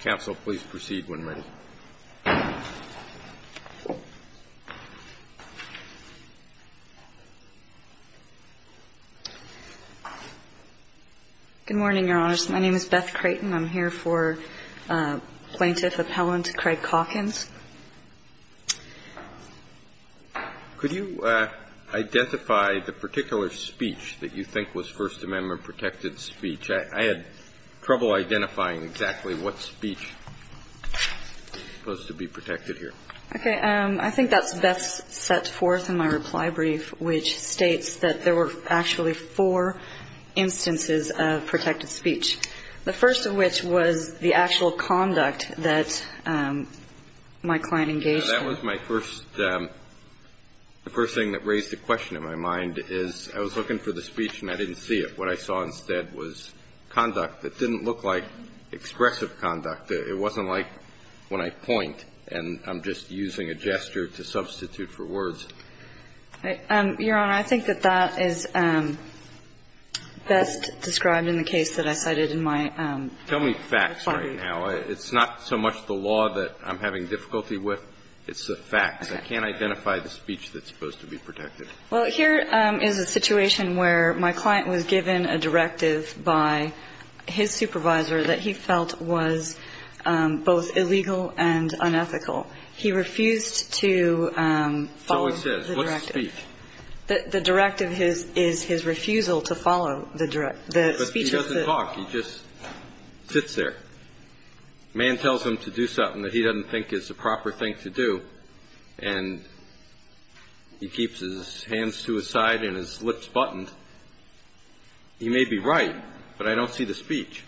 Council, please proceed when ready. Good morning, Your Honors. My name is Beth Creighton. I'm here for Plaintiff Appellant Craig Calkins. Could you identify the particular speech that you think was First Amendment-protected speech? I had trouble identifying exactly what speech was supposed to be protected here. Okay. I think that's best set forth in my reply brief, which states that there were actually four instances of protected speech, the first of which was the actual conduct that my client engaged in. Now, that was my first – the first thing that raised a question in my mind is I was looking for the speech and I didn't see it. What I saw instead was conduct that didn't look like expressive conduct. It wasn't like when I point and I'm just using a gesture to substitute for words. Your Honor, I think that that is best described in the case that I cited in my reply brief. Tell me facts right now. It's not so much the law that I'm having difficulty with, it's the facts. I can't identify the speech that's supposed to be protected. Well, here is a situation where my client was given a directive by his supervisor that he felt was both illegal and unethical. He refused to follow the directive. So he says. What's the speech? The directive is his refusal to follow the speech. But he doesn't talk. He just sits there. The man tells him to do something that he doesn't think is the proper thing to do. And he keeps his hands to his side and his lips buttoned. He may be right, but I don't see the speech.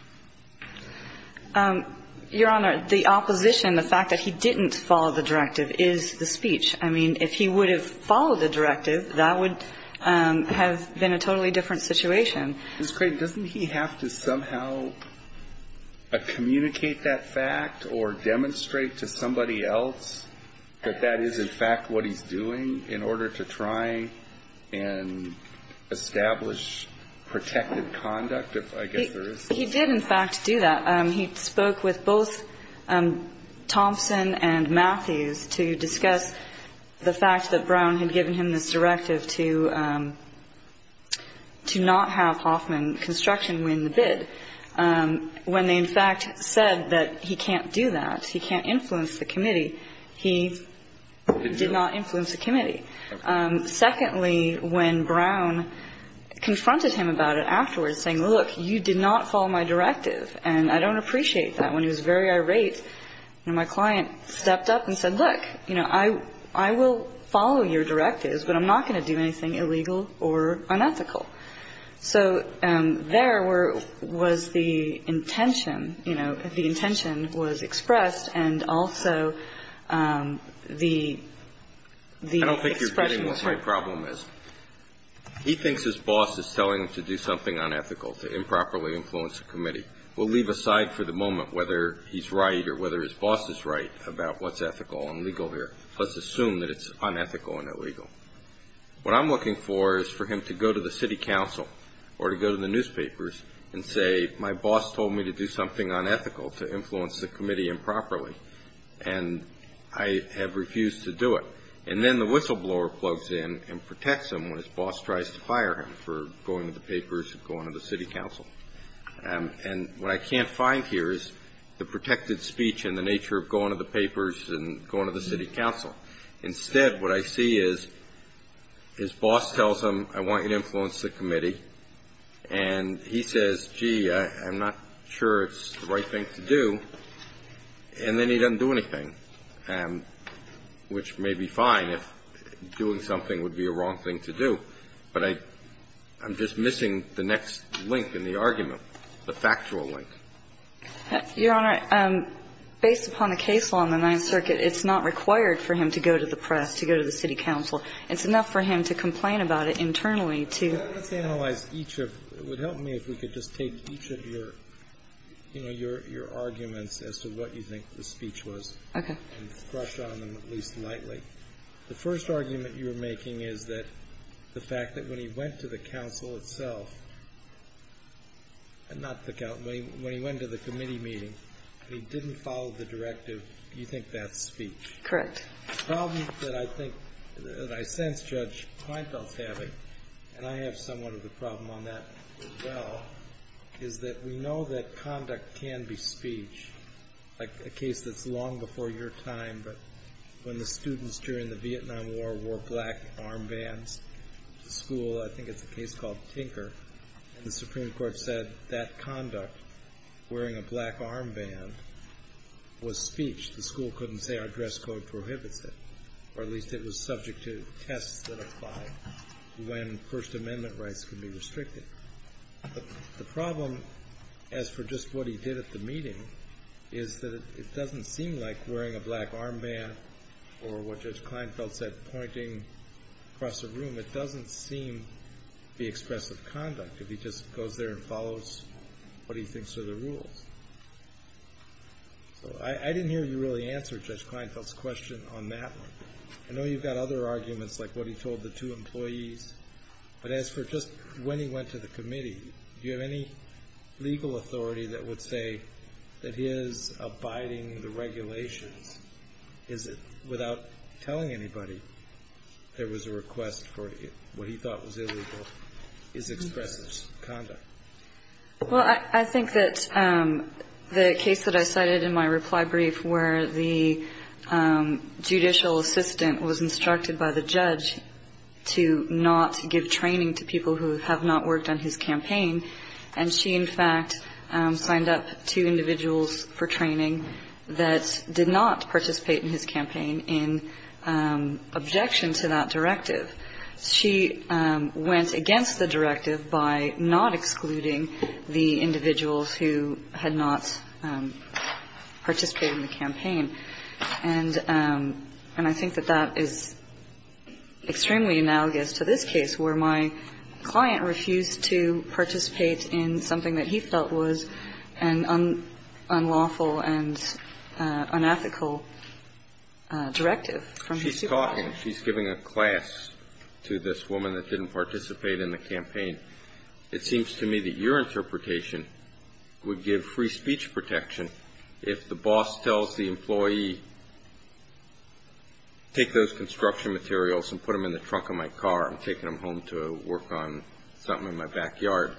Your Honor, the opposition, the fact that he didn't follow the directive is the speech. I mean, if he would have followed the directive, that would have been a totally different situation. Ms. Crane, doesn't he have to somehow communicate that fact or demonstrate to somebody else that that is, in fact, what he's doing in order to try and establish protected conduct, if I guess there is such a thing? He did, in fact, do that. He spoke with both Thompson and Matthews to discuss the fact that Brown had given him this directive to not have Hoffman Construction win the bid. When they, in fact, said that he can't do that, he can't influence the committee, he did not influence the committee. Secondly, when Brown confronted him about it afterwards, saying, look, you did not follow my directive, and I don't appreciate that, when he was very irate, my client stepped up and said, look, you know, I will follow your directives, but I'm not going to do anything illegal or unethical. So there was the intention, you know, the intention was expressed, and also the expression was heard. I don't think you're getting what my problem is. He thinks his boss is telling him to do something unethical, to improperly influence the committee. We'll leave aside for the moment whether he's right or whether his boss is right about what's ethical and legal here. Let's assume that it's unethical and illegal. What I'm looking for is for him to go to the city council or to go to the newspapers and say, my boss told me to do something unethical, to influence the committee improperly, and I have refused to do it. And then the whistleblower plugs in and protects him when his boss tries to fire him for going to the papers and going to the city council. And what I can't find here is the protected speech and the nature of going to the papers and going to the city council. Instead, what I see is his boss tells him, I want you to influence the committee, and he says, gee, I'm not sure it's the right thing to do, and then he doesn't do anything, which may be fine if doing something would be a wrong thing to do. But I'm just missing the next link in the argument, the factual link. Your Honor, based upon the case law in the Ninth Circuit, it's not required for him to go to the press, to go to the city council. It's enough for him to complain about it internally to the city council. Let's analyze each of them. It would help me if we could just take each of your, you know, your arguments as to what you think the speech was. Okay. And brush on them at least lightly. The first argument you're making is that the fact that when he went to the council itself, not the council, when he went to the committee meeting, he didn't follow the directive, you think that's speech? Correct. The problem that I think, that I sense Judge Kleinfeld's having, and I have somewhat of a problem on that as well, is that we know that conduct can be speech, like a case that's long before your time, but when the students during the Vietnam War wore black armbands to school, I think it's a case called Tinker, and the Supreme Court said that conduct, wearing a black armband, was speech. The school couldn't say our dress code prohibits it, or at least it was subject to tests that apply when First Amendment rights could be restricted. The problem, as for just what he did at the meeting, is that it doesn't seem like wearing a black armband, or what Judge Kleinfeld said, pointing across a room, it doesn't seem to be expressive conduct, if he just goes there and follows what he thinks are the rules. So I didn't hear you really answer Judge Kleinfeld's question on that one. I know you've got other arguments, like what he told the two employees, but as for just when he went to the committee, do you have any legal authority that would say that his abiding the regulations, without telling anybody there was a request for what he thought was illegal, is expressive conduct? Well, I think that the case that I cited in my reply brief, where the judicial assistant was instructed by the judge to not give training to people who have not worked on his campaign, and she, in fact, signed up two individuals for training that did not participate in his campaign in objection to that directive. She went against the directive by not excluding the individuals who had not participated in the campaign. And I think that that is extremely analogous to this case, where my client refused to participate in something that he felt was an unlawful and unethical directive from his superiors. She's talking, she's giving a class to this woman that didn't participate in the campaign. It seems to me that your interpretation would give free speech protection if the boss tells the employee, take those construction materials and put them in the trunk of my car. I'm taking them home to work on something in my backyard.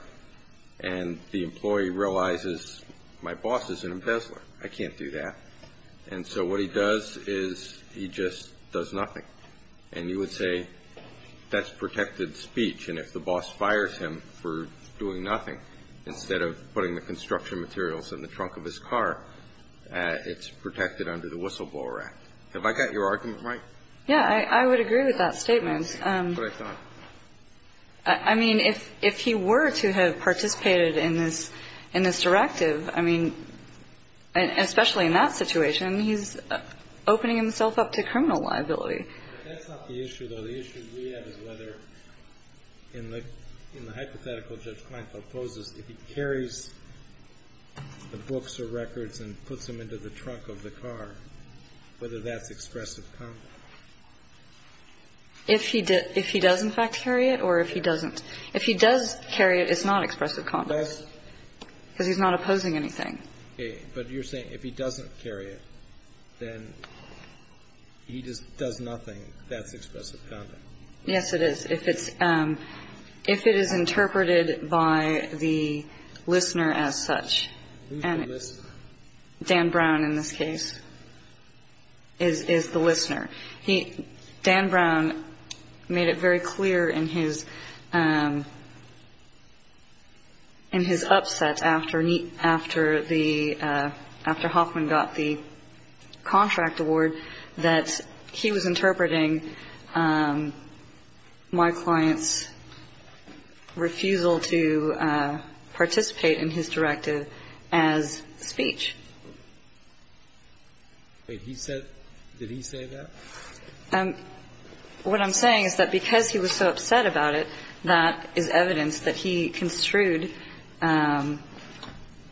And the employee realizes, my boss is an embezzler. I can't do that. And so what he does is he just does nothing. And you would say, that's protected speech. I mean, if he were to have participated in this, in this directive, I mean, and especially in that situation, he's opening himself up to criminal liability. But that's not the issue, though. The issue we have is whether, in the hypothetical Judge Kline proposes, if he carries Act. Have I got your argument right? The books or records and puts them into the trunk of the car, whether that's expressive conduct. If he does in fact carry it or if he doesn't? If he does carry it, it's not expressive conduct. Because he's not opposing anything. Okay. But you're saying if he doesn't carry it, then he just does nothing. That's expressive conduct. Yes, it is. If it's, if it is interpreted by the listener as such, and Dan Brown in this case is the listener. He, Dan Brown, made it very clear in his, in his upset after, after the, after Hoffman got the contract award, that he was interpreting my client's refusal to participate in his directive as speech. But he said, did he say that? What I'm saying is that because he was so upset about it, that is evidence that he construed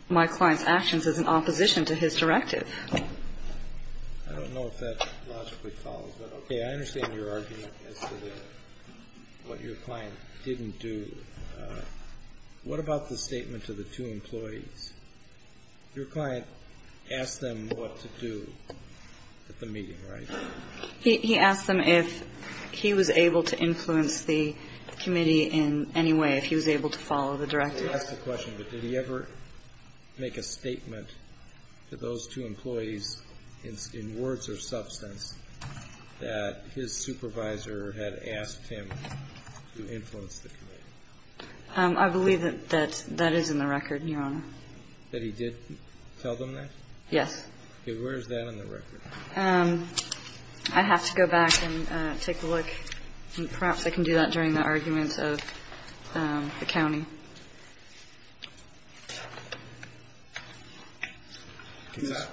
my client's actions as an opposition to his directive. I don't know if that logically follows. But, okay, I understand your argument as to what your client didn't do. What about the statement to the two employees? Your client asked them what to do at the meeting, right? He asked them if he was able to influence the committee in any way, if he was able to follow the directive. I'm sorry to ask the question, but did he ever make a statement to those two employees in words or substance that his supervisor had asked him to influence the committee? I believe that that is in the record, Your Honor. That he did tell them that? Yes. Okay. Where is that in the record? I have to go back and take a look, and perhaps I can do that during the arguments of the county.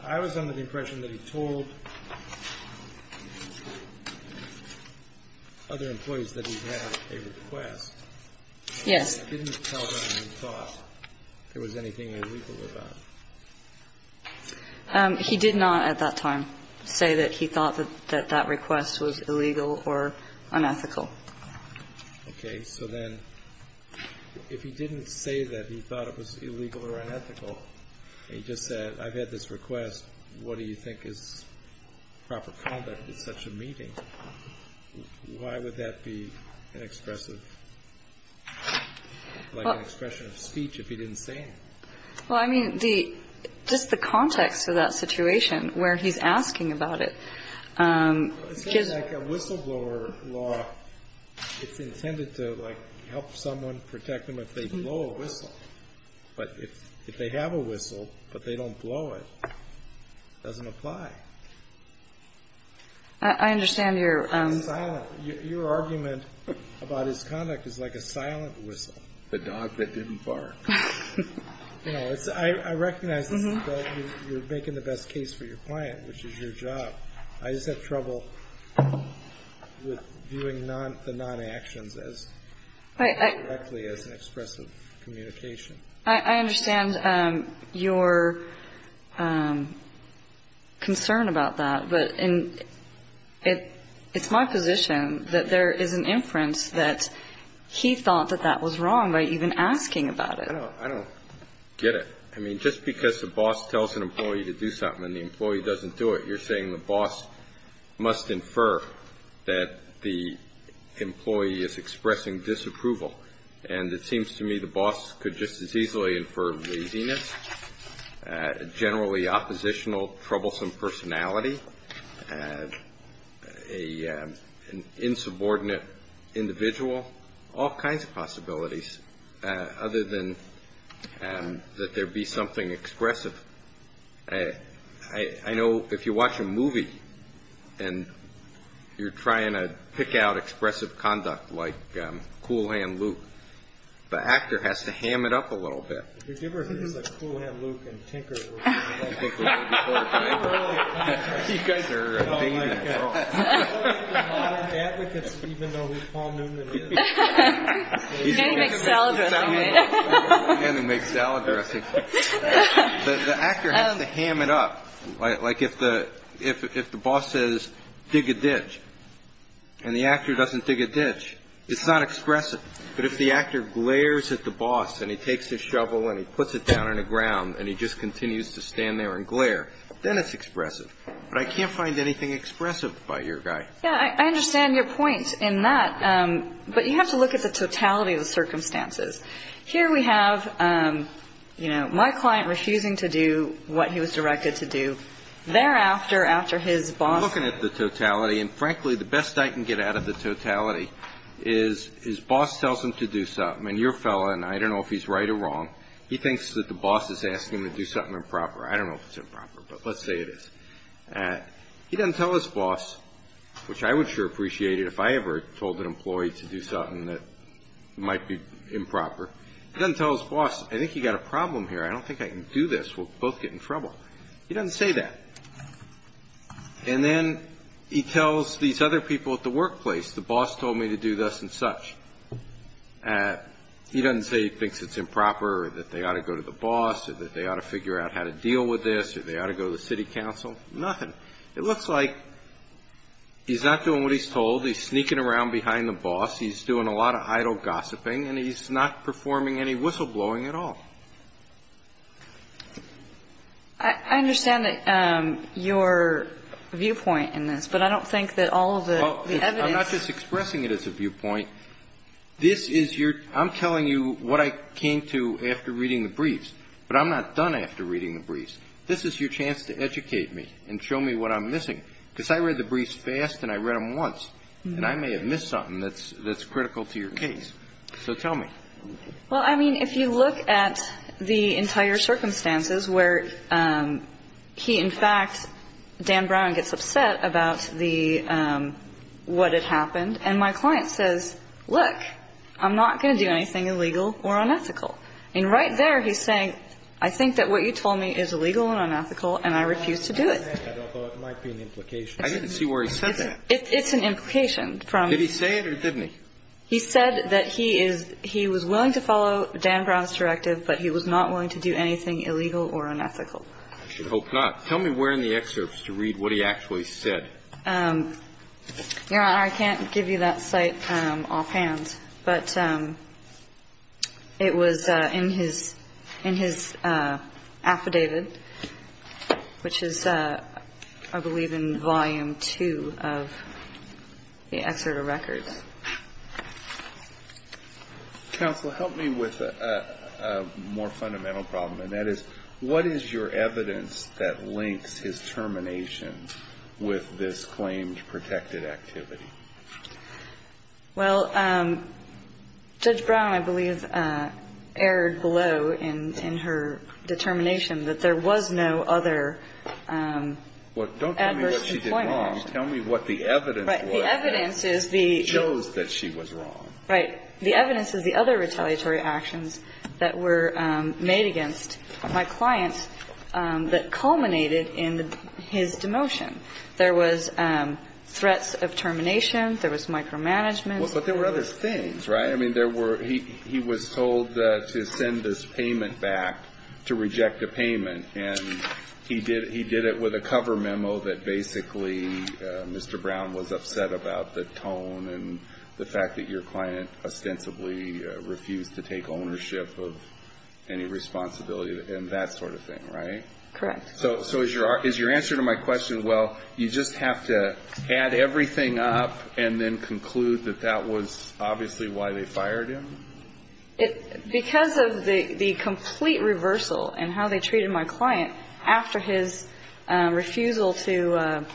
I was under the impression that he told other employees that he had a request. Yes. He didn't tell them he thought there was anything illegal about it. He did not at that time say that he thought that that request was illegal or unethical. Okay. So then if he didn't say that he thought it was illegal or unethical, and he just said, I've had this request, what do you think is proper conduct at such a meeting? Why would that be an expressive, like an expression of speech if he didn't say anything? Well, I mean, just the context of that situation where he's asking about it. It's like a whistleblower law. It's intended to, like, help someone, protect them if they blow a whistle. But if they have a whistle, but they don't blow it, it doesn't apply. I understand your argument about his conduct is like a silent whistle. The dog that didn't bark. You know, I recognize this, but you're making the best case for your client, which is your job. I just have trouble with viewing the non-actions as directly as an expressive communication. I understand your concern about that, but it's my position that there is an inference that he thought that that was wrong by even asking about it. I don't get it. I mean, just because the boss tells an employee to do something and the employee doesn't do it, you're saying the boss must infer that the employee is expressing disapproval. And it seems to me the boss could just as easily infer laziness, generally oppositional, troublesome personality, an insubordinate individual, all kinds of possibilities, other than that there be something expressive. I know if you watch a movie and you're trying to pick out expressive conduct like Cool Hand Luke, the actor has to ham it up a little bit. If you give her things like Cool Hand Luke and Tinker, you guys are a dating program. You guys are modern advocates, even though we call Newman in. You can't even make salad dressing, right? You can't even make salad dressing. The actor has to ham it up. Like if the boss says, dig a ditch, and the actor doesn't dig a ditch, it's not expressive. But if the actor glares at the boss and he takes his shovel and he puts it down on the ground and he just continues to stand there and glare, then it's expressive. But I can't find anything expressive about your guy. Yeah, I understand your point in that, but you have to look at the totality of the circumstances. Here we have, you know, my client refusing to do what he was directed to do. Thereafter, after his boss… I'm looking at the totality, and frankly, the best I can get out of the totality is his boss tells him to do something. And your fellow, and I don't know if he's right or wrong, he thinks that the boss is asking him to do something improper. I don't know if it's improper, but let's say it is. He doesn't tell his boss, which I would sure appreciate it if I ever told an employee to do something that might be improper. He doesn't tell his boss, I think you've got a problem here. I don't think I can do this. We'll both get in trouble. He doesn't say that. And then he tells these other people at the workplace, the boss told me to do this and such. He doesn't say he thinks it's improper or that they ought to go to the boss or that they ought to figure out how to deal with this or they ought to go to the city council. Nothing. It looks like he's not doing what he's told. He's sneaking around behind the boss. He's doing a lot of idle gossiping, and he's not performing any whistleblowing at all. I understand your viewpoint in this, but I don't think that all of the evidence. I'm not just expressing it as a viewpoint. This is your – I'm telling you what I came to after reading the briefs, but I'm not done after reading the briefs. This is your chance to educate me and show me what I'm missing, because I read the briefs fast and I read them once, and I may have missed something that's critical to your case. So tell me. Well, I mean, if you look at the entire circumstances where he in fact – Dan Brown gets upset about the – what had happened, and my client says, look, I'm not going to do anything illegal or unethical. And right there he's saying, I think that what you told me is illegal and unethical, and I refuse to do it. I didn't see where he said that. It's an implication from – Did he say it or didn't he? He said that he is – he was willing to follow Dan Brown's directive, but he was not willing to do anything illegal or unethical. I should hope not. Tell me where in the excerpts to read what he actually said. Your Honor, I can't give you that site offhand, but it was in his affidavit, which is, I believe, in Volume 2 of the Excerpt of Records. Counsel, help me with a more fundamental problem, and that is what is your evidence that links his termination with this claimed protected activity? Well, Judge Brown, I believe, erred below in her determination that there was no other adverse employment action. Well, don't tell me what she did wrong. Tell me what the evidence was that shows that she was wrong. Right. The evidence is the other retaliatory actions that were made against my client that culminated in his demotion. There was threats of termination. There was micromanagement. Well, but there were other things, right? I mean, there were – he was told to send this payment back, to reject the payment, and he did it with a cover memo that basically Mr. Brown was upset about the tone and the fact that your client ostensibly refused to take ownership of any responsibility and that sort of thing, right? Correct. So is your answer to my question, well, you just have to add everything up and then conclude that that was obviously why they fired him? Because of the complete reversal in how they treated my client after his refusal to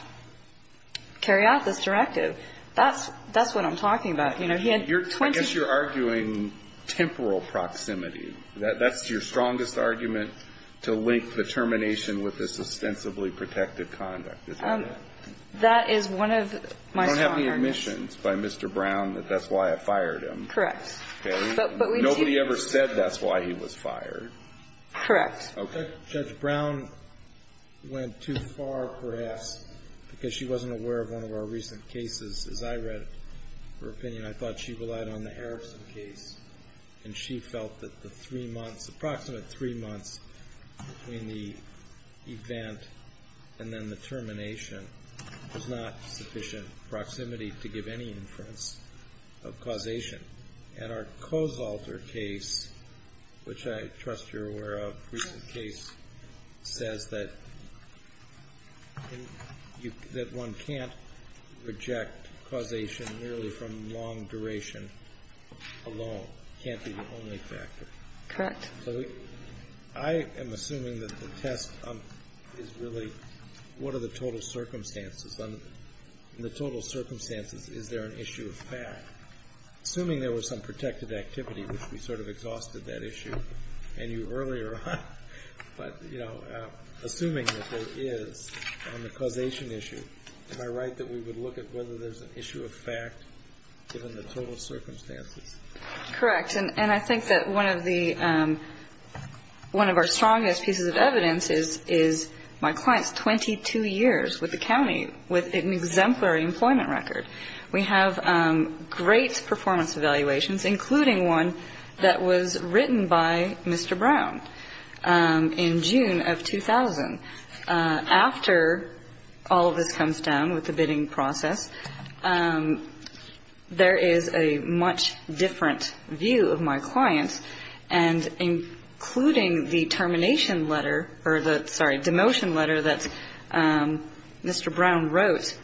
carry out this directive, that's what I'm talking about. You know, he had 20 – I guess you're arguing temporal proximity. That's your strongest argument to link the termination with this ostensibly protective conduct, is that it? That is one of my strong arguments. You don't have the admissions by Mr. Brown that that's why it fired him. Correct. Okay? But we do – Nobody ever said that's why he was fired. Correct. Okay. Judge Brown went too far, perhaps, because she wasn't aware of one of our recent cases. As I read her opinion, I thought she relied on the Harrison case, and she felt that the three months – approximate three months between the event and then the termination was not sufficient proximity to give any inference of causation. And our Kosalter case, which I trust you're aware of, recent case, says that you – that one can't reject causation merely from long duration alone. It can't be the only factor. Correct. So I am assuming that the test is really what are the total circumstances. In the total circumstances, is there an issue of fact? Assuming there was some protected activity, which we sort of exhausted that issue, and you earlier on – but, you know, assuming that there is on the causation issue, am I right that we would look at whether there's an issue of fact given the total circumstances? Correct. And I think that one of the – one of our strongest pieces of evidence is my client's 22 years with the county with an exemplary employment record. We have great performance evaluations, including one that was written by Mr. Brown in June of 2000. After all of this comes down with the bidding process, there is a much different view of my client, and including the termination letter – or the – sorry, demotion letter that Mr. Brown wrote,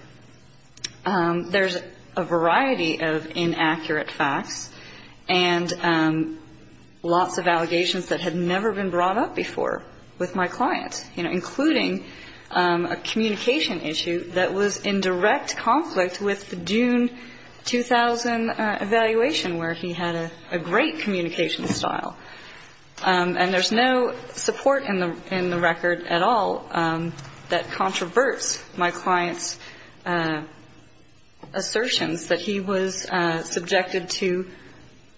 there's a variety of inaccurate facts and lots of allegations that had never been brought up before with my client, you know, including a communication issue that was in direct conflict with the June 2000 evaluation, where he had a great communication style. And there's no support in the record at all that controverts my client's assertions that he was subjected to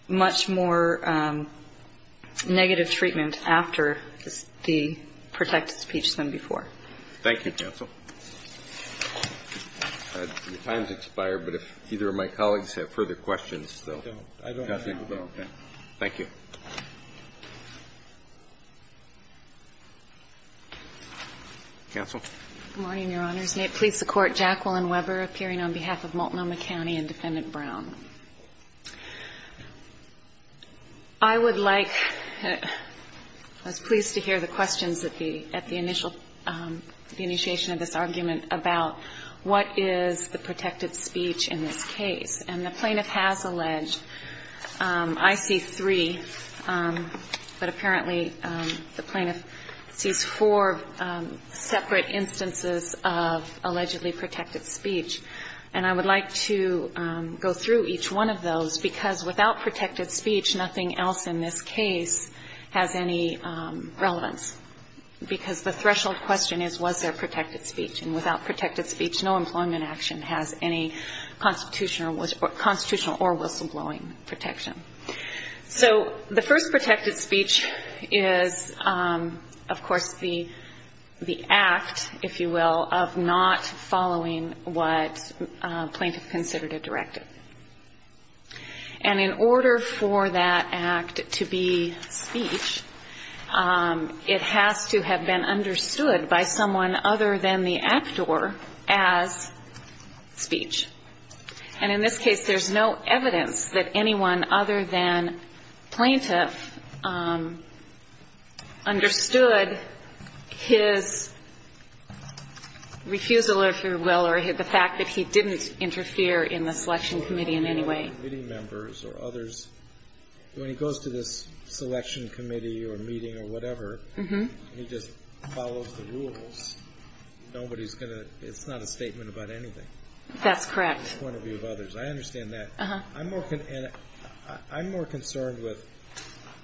much more negative treatment after the protected speech than before. Thank you, counsel. The time's expired, but if either of my colleagues have further questions, they'll – I don't have any. Okay. Thank you. Counsel? Good morning, Your Honors. May it please the Court, Jacqueline Weber, appearing on behalf of Multnomah County and Defendant Brown. I would like – I was pleased to hear the questions at the initial – the initiation of this argument about what is the protected speech in this case. And the plaintiff has alleged – I see three, but apparently the plaintiff sees four separate instances of allegedly protected speech. And I would like to go through each one of those, because without protected speech, nothing else in this case has any relevance, because the threshold question is, was there protected speech? And without protected speech, no employment action has any constitutional or whistleblowing protection. So the first protected speech is, of course, the act, if you will, of not following what a plaintiff considered a directive. And in order for that act to be speech, it has to have been understood by someone other than the actor as speech. And in this case, there's no evidence that anyone other than plaintiff understood his refusal, if you will, or the fact that he didn't interfere in the selection committee in any way. When he goes to this selection committee or meeting or whatever, and he just follows the rules, nobody's going to – it's not a statement about anything. That's correct. From the point of view of others, I understand that. I'm more concerned with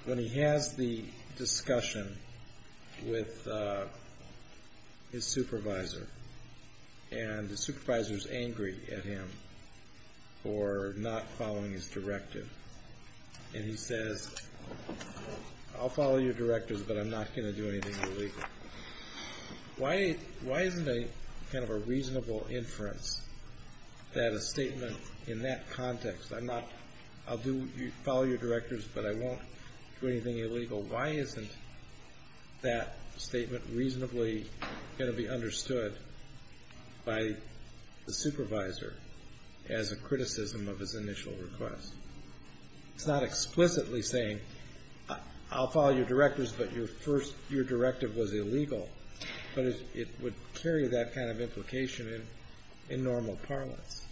when he has the discussion with his supervisor, and the supervisor's angry at him for not following his directive. And he says, I'll follow your directives, but I'm not going to do anything illegal. Why isn't a kind of a reasonable inference that a statement in that context, I'm not – I'll do – follow your directives, but I won't do anything illegal. Why isn't that statement reasonably going to be understood by the supervisor as a criticism of his initial request? It's not explicitly saying, I'll follow your directives, but your first – your directive was illegal. But it would carry that kind of implication in normal parlance.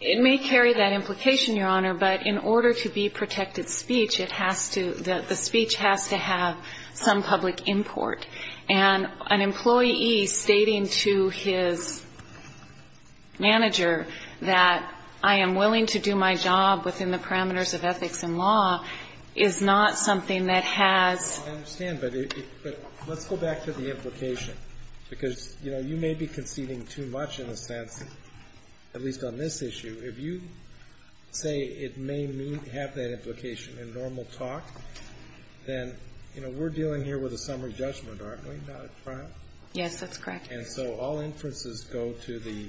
It may carry that implication, Your Honor, but in order to be protected speech, it has to – the speech has to have some public import. And an employee stating to his manager that I am willing to do my job within the parameters of ethics and law is not something that has – I understand, but let's go back to the implication, because, you know, you may be conceding too much in a sense, at least on this issue. If you say it may have that implication in normal talk, then, you know, we're dealing here with a summary judgment, aren't we, not a trial? Yes, that's correct. And so all inferences go to the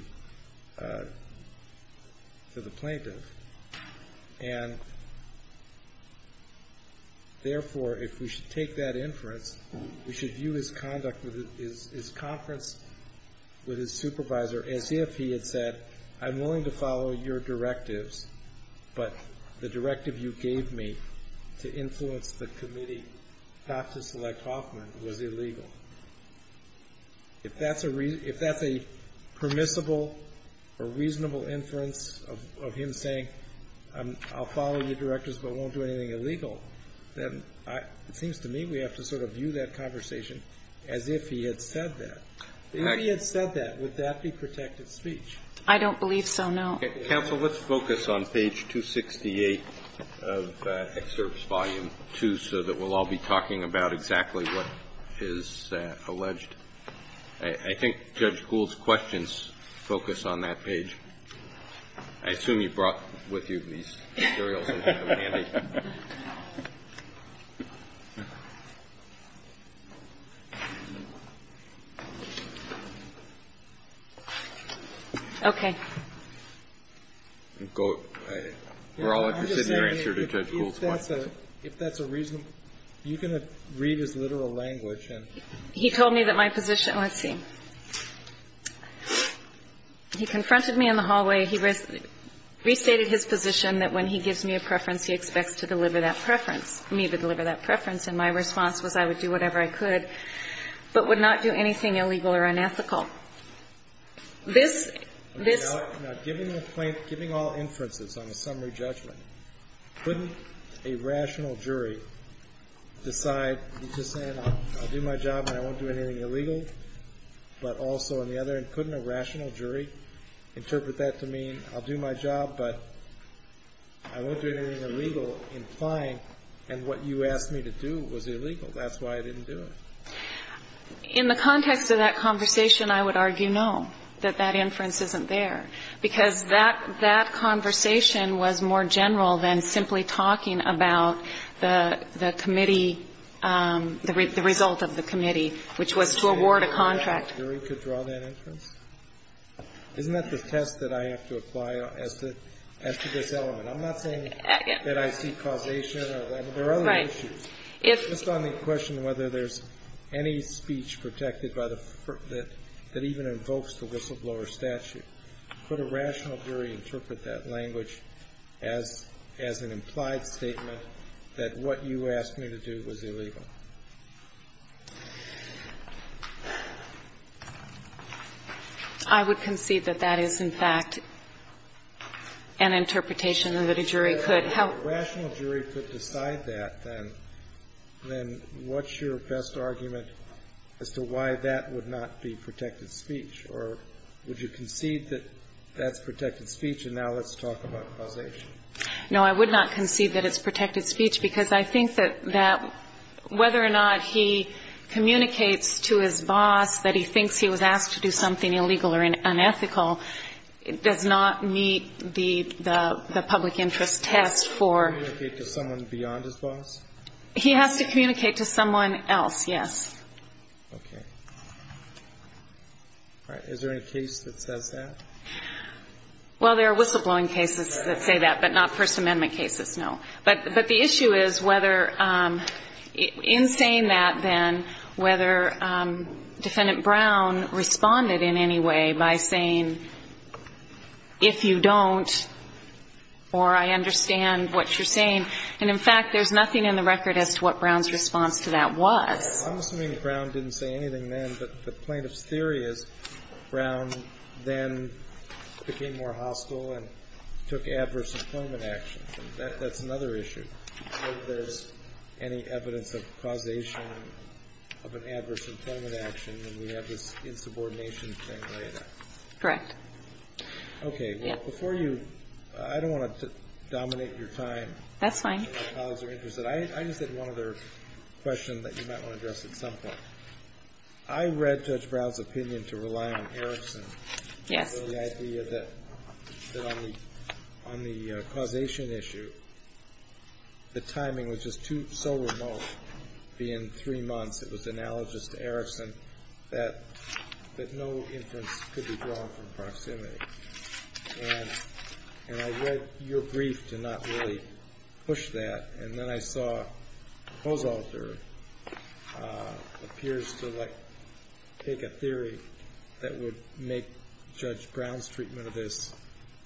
plaintiff. And therefore, if we should take that inference, we should view his conduct with his – his conference with his supervisor as if he had said, I'm willing to follow your directives, but the directive you gave me to influence the committee not to select Hoffman was illegal. If that's a – if that's a permissible or reasonable inference of him saying, I'll follow your directives but won't do anything illegal, then it seems to me we have to sort of view that conversation as if he had said that. If he had said that, would that be protected speech? I don't believe so, no. Okay. Counsel, let's focus on page 268 of excerpt volume 2 so that we'll all be talking about exactly what is alleged. I think Judge Gould's questions focus on that page. I assume you brought with you these materials that you demanded. Okay. We're all interested in your answer to Judge Gould's question. If that's a reasonable – you can read his literal language and – He told me that my position – let's see. He confronted me in the hallway. He restated his position that when he gives me a preference, he expects to deliver that preference, me to deliver that preference. And my response was I would do whatever I could, but would not do anything illegal or unethical. This – this – Now, given the plaintiff – giving all inferences on a summary judgment, couldn't a rational jury decide, he's just saying I'll do my job and I won't do anything illegal, but also on the other end, couldn't a rational jury interpret that to mean I'll do my job, but I won't do anything illegal, implying and what you asked me to do was illegal. That's why I didn't do it. In the context of that conversation, I would argue no, that that inference isn't there, because that – that conversation was more general than simply talking about the – the committee – the result of the committee, which was to award a contract. A rational jury could draw that inference? Isn't that the test that I have to apply as to – as to this element? I'm not saying that I see causation or – there are other issues. Right. If – Just on the question whether there's any speech protected by the – that even invokes the whistleblower statute, could a rational jury interpret that language as – as an implied statement that what you asked me to do was illegal? I would concede that that is, in fact, an interpretation and that a jury could help. If a rational jury could decide that, then – then what's your best argument as to why that would not be protected speech, or would you concede that that's protected speech and now let's talk about causation? No, I would not concede that it's protected speech, because I think that that whether or not he communicates to his boss that he thinks he was asked to do something illegal or unethical does not meet the – the public interest test for – Communicate to someone beyond his boss? He has to communicate to someone else, yes. Okay. All right. Is there any case that says that? Well, there are whistleblowing cases that say that, but not First Amendment cases, no. But – but the issue is whether – in saying that then, whether Defendant Brown responded in any way by saying, if you don't, or I understand what you're saying. And, in fact, there's nothing in the record as to what Brown's response to that was. I'm assuming that Brown didn't say anything then, but the plaintiff's theory is Brown then became more hostile and took adverse employment actions. That's another issue. I don't know if there's any evidence of causation of an adverse employment action when we have this insubordination thing like that. Correct. Okay. Well, before you – I don't want to dominate your time. That's fine. My colleagues are interested. I just had one other question that you might want to address at some point. I read Judge Brown's opinion to rely on Erickson. Yes. The idea that on the causation issue, the timing was just too – so remote being three months. It was analogous to Erickson that no inference could be drawn from proximity. And I read your brief to not really push that. And then I saw Kozolter appears to like take a theory that would make Judge Brown's treatment of this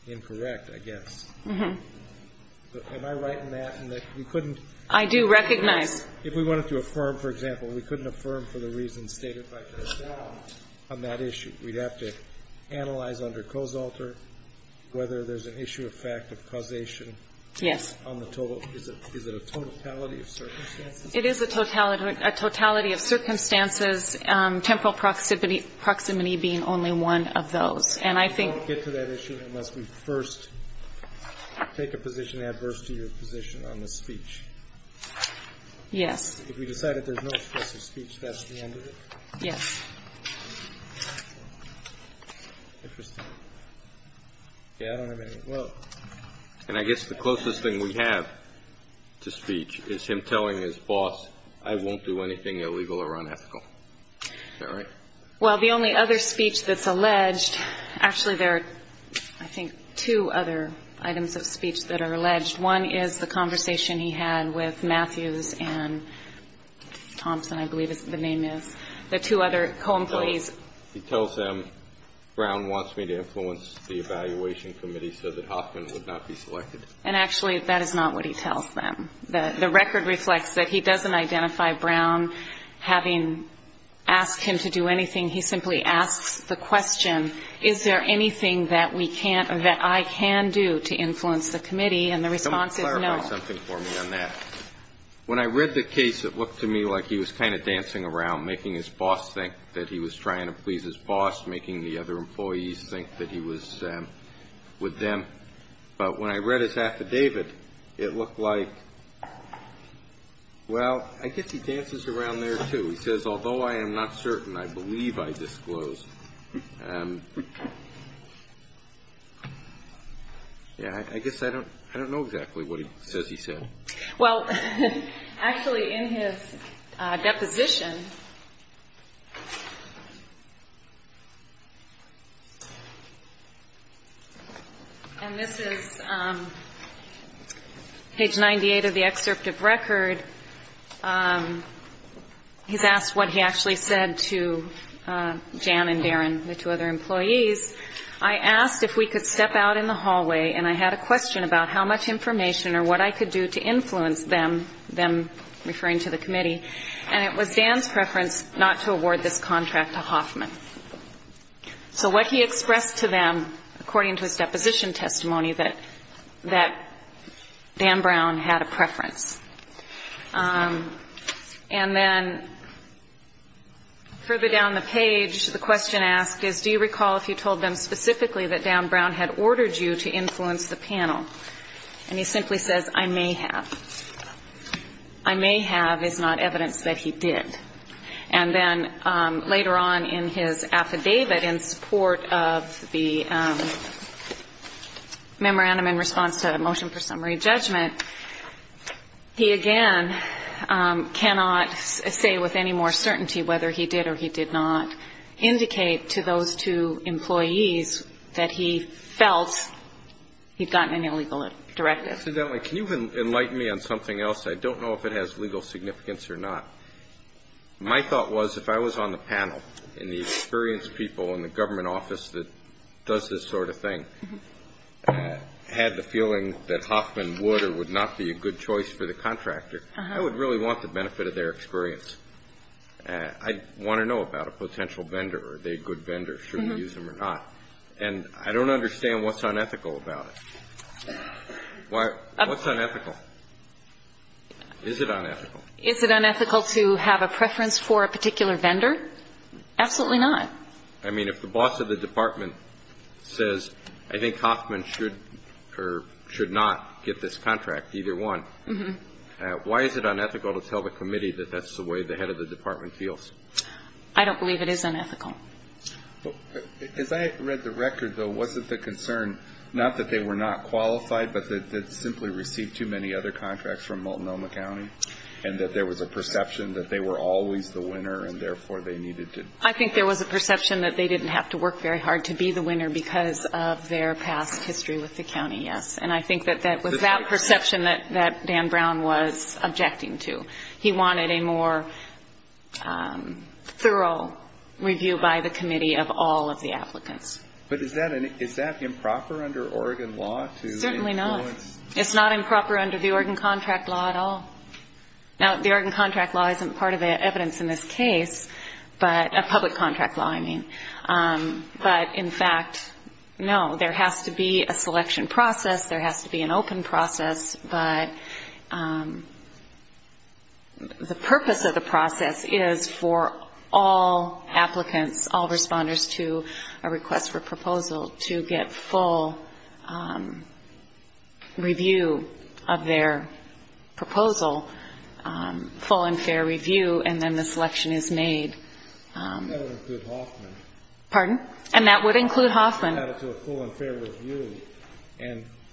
incorrect, I guess. Mm-hmm. Am I right in that in that you couldn't – I do recognize – If we wanted to affirm, for example, we couldn't affirm for the reasons stated by Judge Brown on that issue. We'd have to analyze under Kozolter whether there's an issue of fact of causation. Yes. On the total – is it a totality of circumstances? It is a totality of circumstances, temporal proximity being only one of those. And I think – We won't get to that issue unless we first take a position adverse to your position on the speech. Yes. If we decide that there's no expressive speech, that's the end of it? Yes. Interesting. Yeah, I don't have any – well. And I guess the closest thing we have to speech is him telling his boss, I won't do anything illegal or unethical. Is that right? Well, the only other speech that's alleged – actually, there are, I think, two other items of speech that are alleged. One is the conversation he had with Matthews and Thompson, I believe the name is, the two other co-employees. He tells them, Brown wants me to influence the evaluation committee so that I cannot be selected. And actually, that is not what he tells them. The record reflects that he doesn't identify Brown. Having asked him to do anything, he simply asks the question, is there anything that we can't – that I can do to influence the committee? And the response is no. Can you clarify something for me on that? When I read the case, it looked to me like he was kind of dancing around, making his boss think that he was trying to please his boss, making the other employees think that he was with them. But when I read his affidavit, it looked like – well, I guess he dances around there, too. He says, although I am not certain, I believe I disclosed. Yeah, I guess I don't know exactly what he says he said. Well, actually, in his deposition – and this is page 98 of the excerpt of record – he's asked what he actually said to Jan and Darren, the two other employees. I asked if we could step out in the hallway and I had a question about how much information or what I could do to influence them – them referring to the committee – and it was Dan's preference not to award this contract to Hoffman. So what he expressed to them, according to his deposition testimony, that Dan Brown had a preference. And then further down the page, the question asked is, do you recall if you told them specifically that Dan Brown had ordered you to influence the panel? And he simply says, I may have. I may have is not evidence that he did. And then later on in his affidavit, in support of the memorandum in response to the motion for summary judgment, he again cannot say with any more certainty whether he did or he did not indicate to those two employees that he felt he'd gotten an illegal directive. Incidentally, can you enlighten me on something else? I don't know if it has legal significance or not. My thought was, if I was on the panel and the experienced people in the government office that does this sort of thing had the feeling that Hoffman would or would not be a good choice for the contractor, I would really want the benefit of their experience. I want to know about a potential vendor. Are they a good vendor? Should we use them or not? And I don't understand what's unethical about it. What's unethical? Is it unethical? Is it unethical to have a preference for a particular vendor? Absolutely not. I mean, if the boss of the department says, I think Hoffman should or should not get this contract, either one, why is it unethical to tell the committee that that's the way the head of the department feels? I don't believe it is unethical. As I read the record, though, wasn't the concern not that they were not qualified but that they'd simply received too many other contracts from Multnomah County and that there was a perception that they were always the winner and therefore they needed to? I think there was a perception that they didn't have to work very hard to be the winner because of their past history with the county, yes. And I think that that was that perception that Dan Brown was objecting to. He wanted a more thorough review by the committee of all of the applicants. But is that improper under Oregon law to influence? Certainly not. It's not improper under the Oregon contract law at all. Now, the Oregon contract law isn't part of the evidence in this case, but a public contract law, I mean. But in fact, no, there has to be a selection process. There has to be an open process. But the purpose of the process is for all applicants, all responders to a request for proposal to get full review of their proposal, full and fair review, and then the selection is made. That would include Hoffman. Pardon? And that would include Hoffman.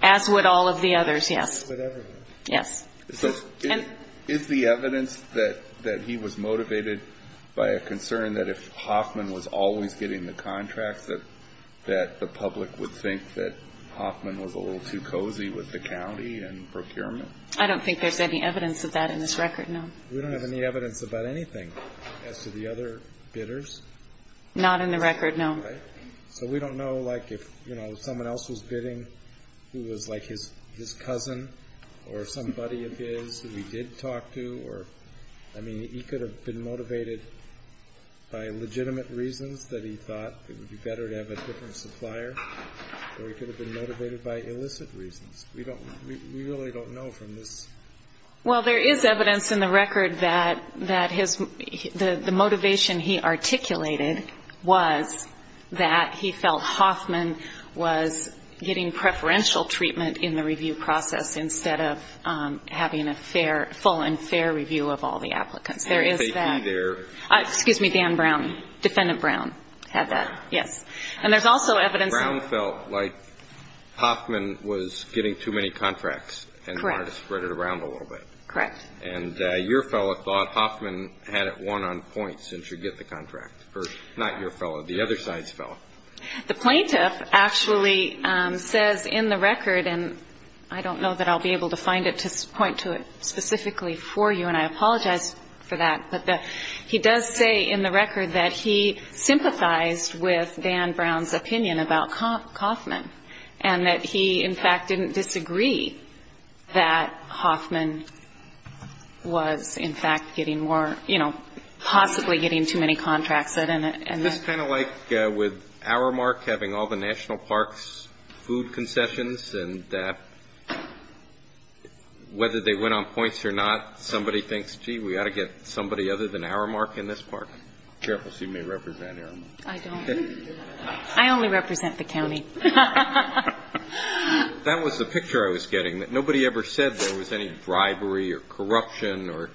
As would all of the others, yes. Yes. So is the evidence that he was motivated by a concern that if Hoffman was always getting the contracts that the public would think that Hoffman was a little too cozy with the county and procurement? I don't think there's any evidence of that in this record, no. We don't have any evidence about anything as to the other bidders? Not in the record, no. So we don't know, like, if someone else was bidding who was like his cousin or somebody of his who he did talk to. I mean, he could have been motivated by legitimate reasons that he thought it would be better to have a different supplier, or he could have been motivated by illicit reasons. We really don't know from this. Well, there is evidence in the record that the motivation he articulated was that he felt Hoffman was getting preferential treatment in the review process instead of having a full and fair review of all the applicants. There is that. Excuse me, Dan Brown, Defendant Brown had that, yes. And there's also evidence. Brown felt like Hoffman was getting too many contracts and wanted to spread it around a little bit. Correct. And your fellow thought Hoffman had it won on points and should get the contract. Not your fellow, the other side's fellow. The plaintiff actually says in the record, and I don't know that I'll be able to find it to point to it specifically for you, and I apologize for that, but he does say in the record that he sympathized with Dan Brown's opinion about Hoffman and that he, in fact, didn't disagree that Hoffman was, in fact, getting more, you know, possibly getting too many contracts. And that's kind of like with Aramark having all the national parks food concessions and whether they went on points or not, somebody thinks, gee, we ought to get somebody other than Aramark in this park. Careful, she may represent Aramark. I don't. I only represent the county. That was the picture I was getting, that nobody ever said there was any bribery or corruption or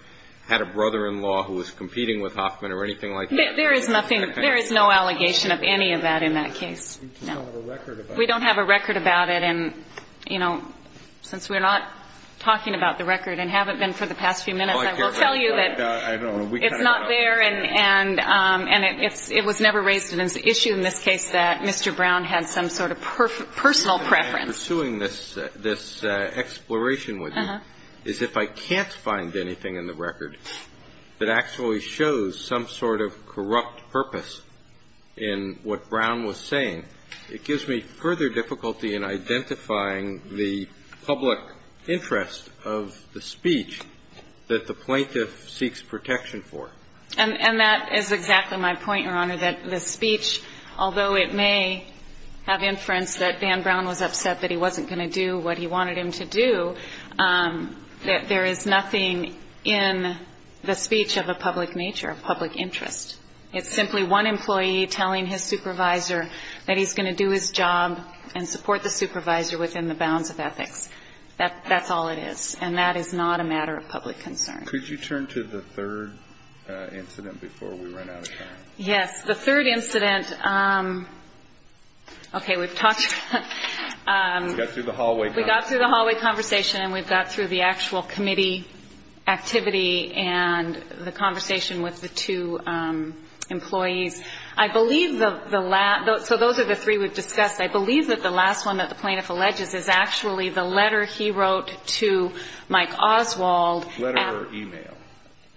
had a brother-in-law who was competing with Hoffman or anything like that. There is nothing. There is no allegation of any of that in that case. We don't have a record about it. We don't have a record about it. And, you know, since we're not talking about the record and haven't been for the past few minutes, I will tell you that it's not there and it was never raised as an issue in this case that Mr. Brown had some sort of personal preference. The reason I'm pursuing this exploration with you is if I can't find anything in the record that actually shows some sort of corrupt purpose in what Brown was saying, it gives me further difficulty in identifying the public interest of the speech that the plaintiff seeks protection for. And that is exactly my point, Your Honor, that the speech, although it may have inference that Van Brown was upset that he wasn't going to do what he wanted him to do, that there is nothing in the speech of a public nature, a public interest. It's simply one employee telling his supervisor that he's going to do his job and support the supervisor within the bounds of ethics. That's all it is. And that is not a matter of public concern. Could you turn to the third incident before we run out of time? Yes, the third incident. Okay, we've talked. We got through the hallway conversation. We got through the hallway conversation and we've got through the actual committee activity and the conversation with the two employees. I believe the last, so those are the three we've discussed. I believe that the last one that the plaintiff alleges is actually the letter he wrote to Mike Oswald. Letter or e-mail?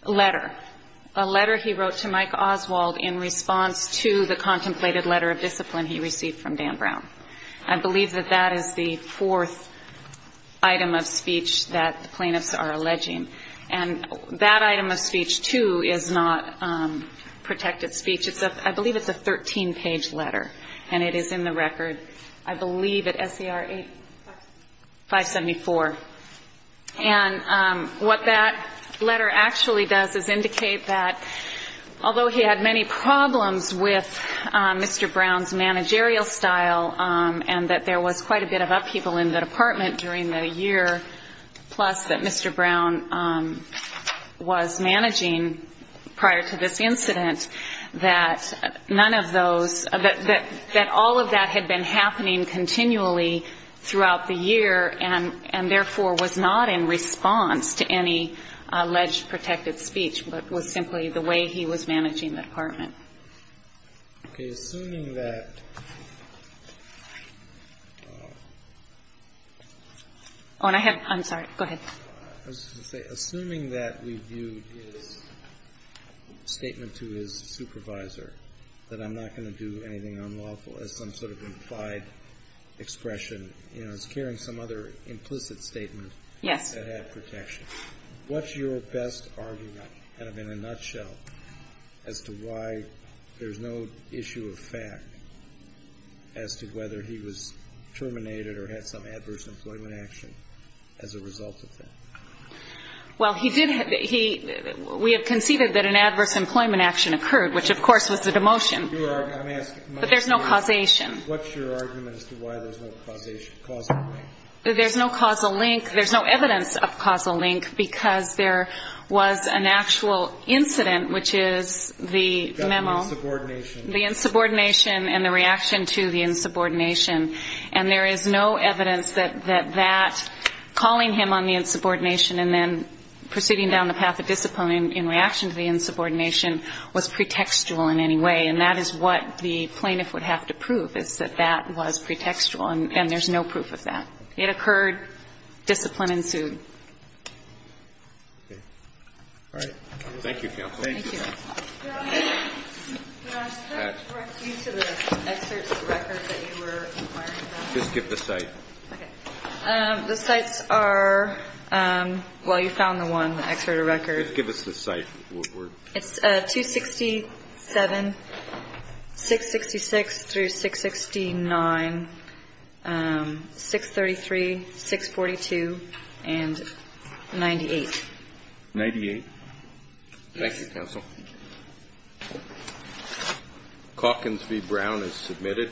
Letter. A letter he wrote to Mike Oswald in response to the contemplated letter of discipline he received from Van Brown. I believe that that is the fourth item of speech that the plaintiffs are alleging. And that item of speech, too, is not protected speech. I believe it's a 13-page letter and it is in the record, I believe, at SCR 574. And what that letter actually does is indicate that although he had many problems with Mr. Brown's managerial style and that there was quite a bit of upheaval in the department during the year, plus that Mr. Brown was managing prior to this incident, that none of those, that all of that had been happening continually throughout the year and therefore was not in response to any alleged protected speech, but was simply the way he was managing the department. Okay. Assuming that... Oh, and I have, I'm sorry. Go ahead. I was just going to say, assuming that we view his statement to his supervisor that I'm not going to do anything unlawful as some sort of implied expression, you know, as carrying some other implicit statement... Yes. ...that had protection, what's your best argument, kind of in a nutshell, as to why there's no issue of fact as to whether he was terminated or had some adverse employment action as a result of that? Well, he did, he, we have conceded that an adverse employment action occurred, which of course was a demotion. But there's no causation. What's your argument as to why there's no causation, causal link? There's no causal link, there's no evidence of causal link because there was an actual incident, which is the memo... The insubordination. ...the insubordination and the reaction to the insubordination. And there is no evidence that that calling him on the insubordination and then proceeding down the path of discipline in reaction to the insubordination was pretextual in any way. And that is what the plaintiff would have to prove is that that was pretextual and there's no proof of that. It occurred, discipline ensued. Okay. All right. Thank you, counsel. Thank you. Your Honor, could I direct you to the excerpt of the record that you were inquiring about? Just give the site. Okay. The sites are, well, you found the one, the excerpt of the record. Just give us the site. What word? It's 267-666-669-633-642 and 98. 98? Yes. Thank you, counsel. Calkins v. Brown is submitted. Thank you.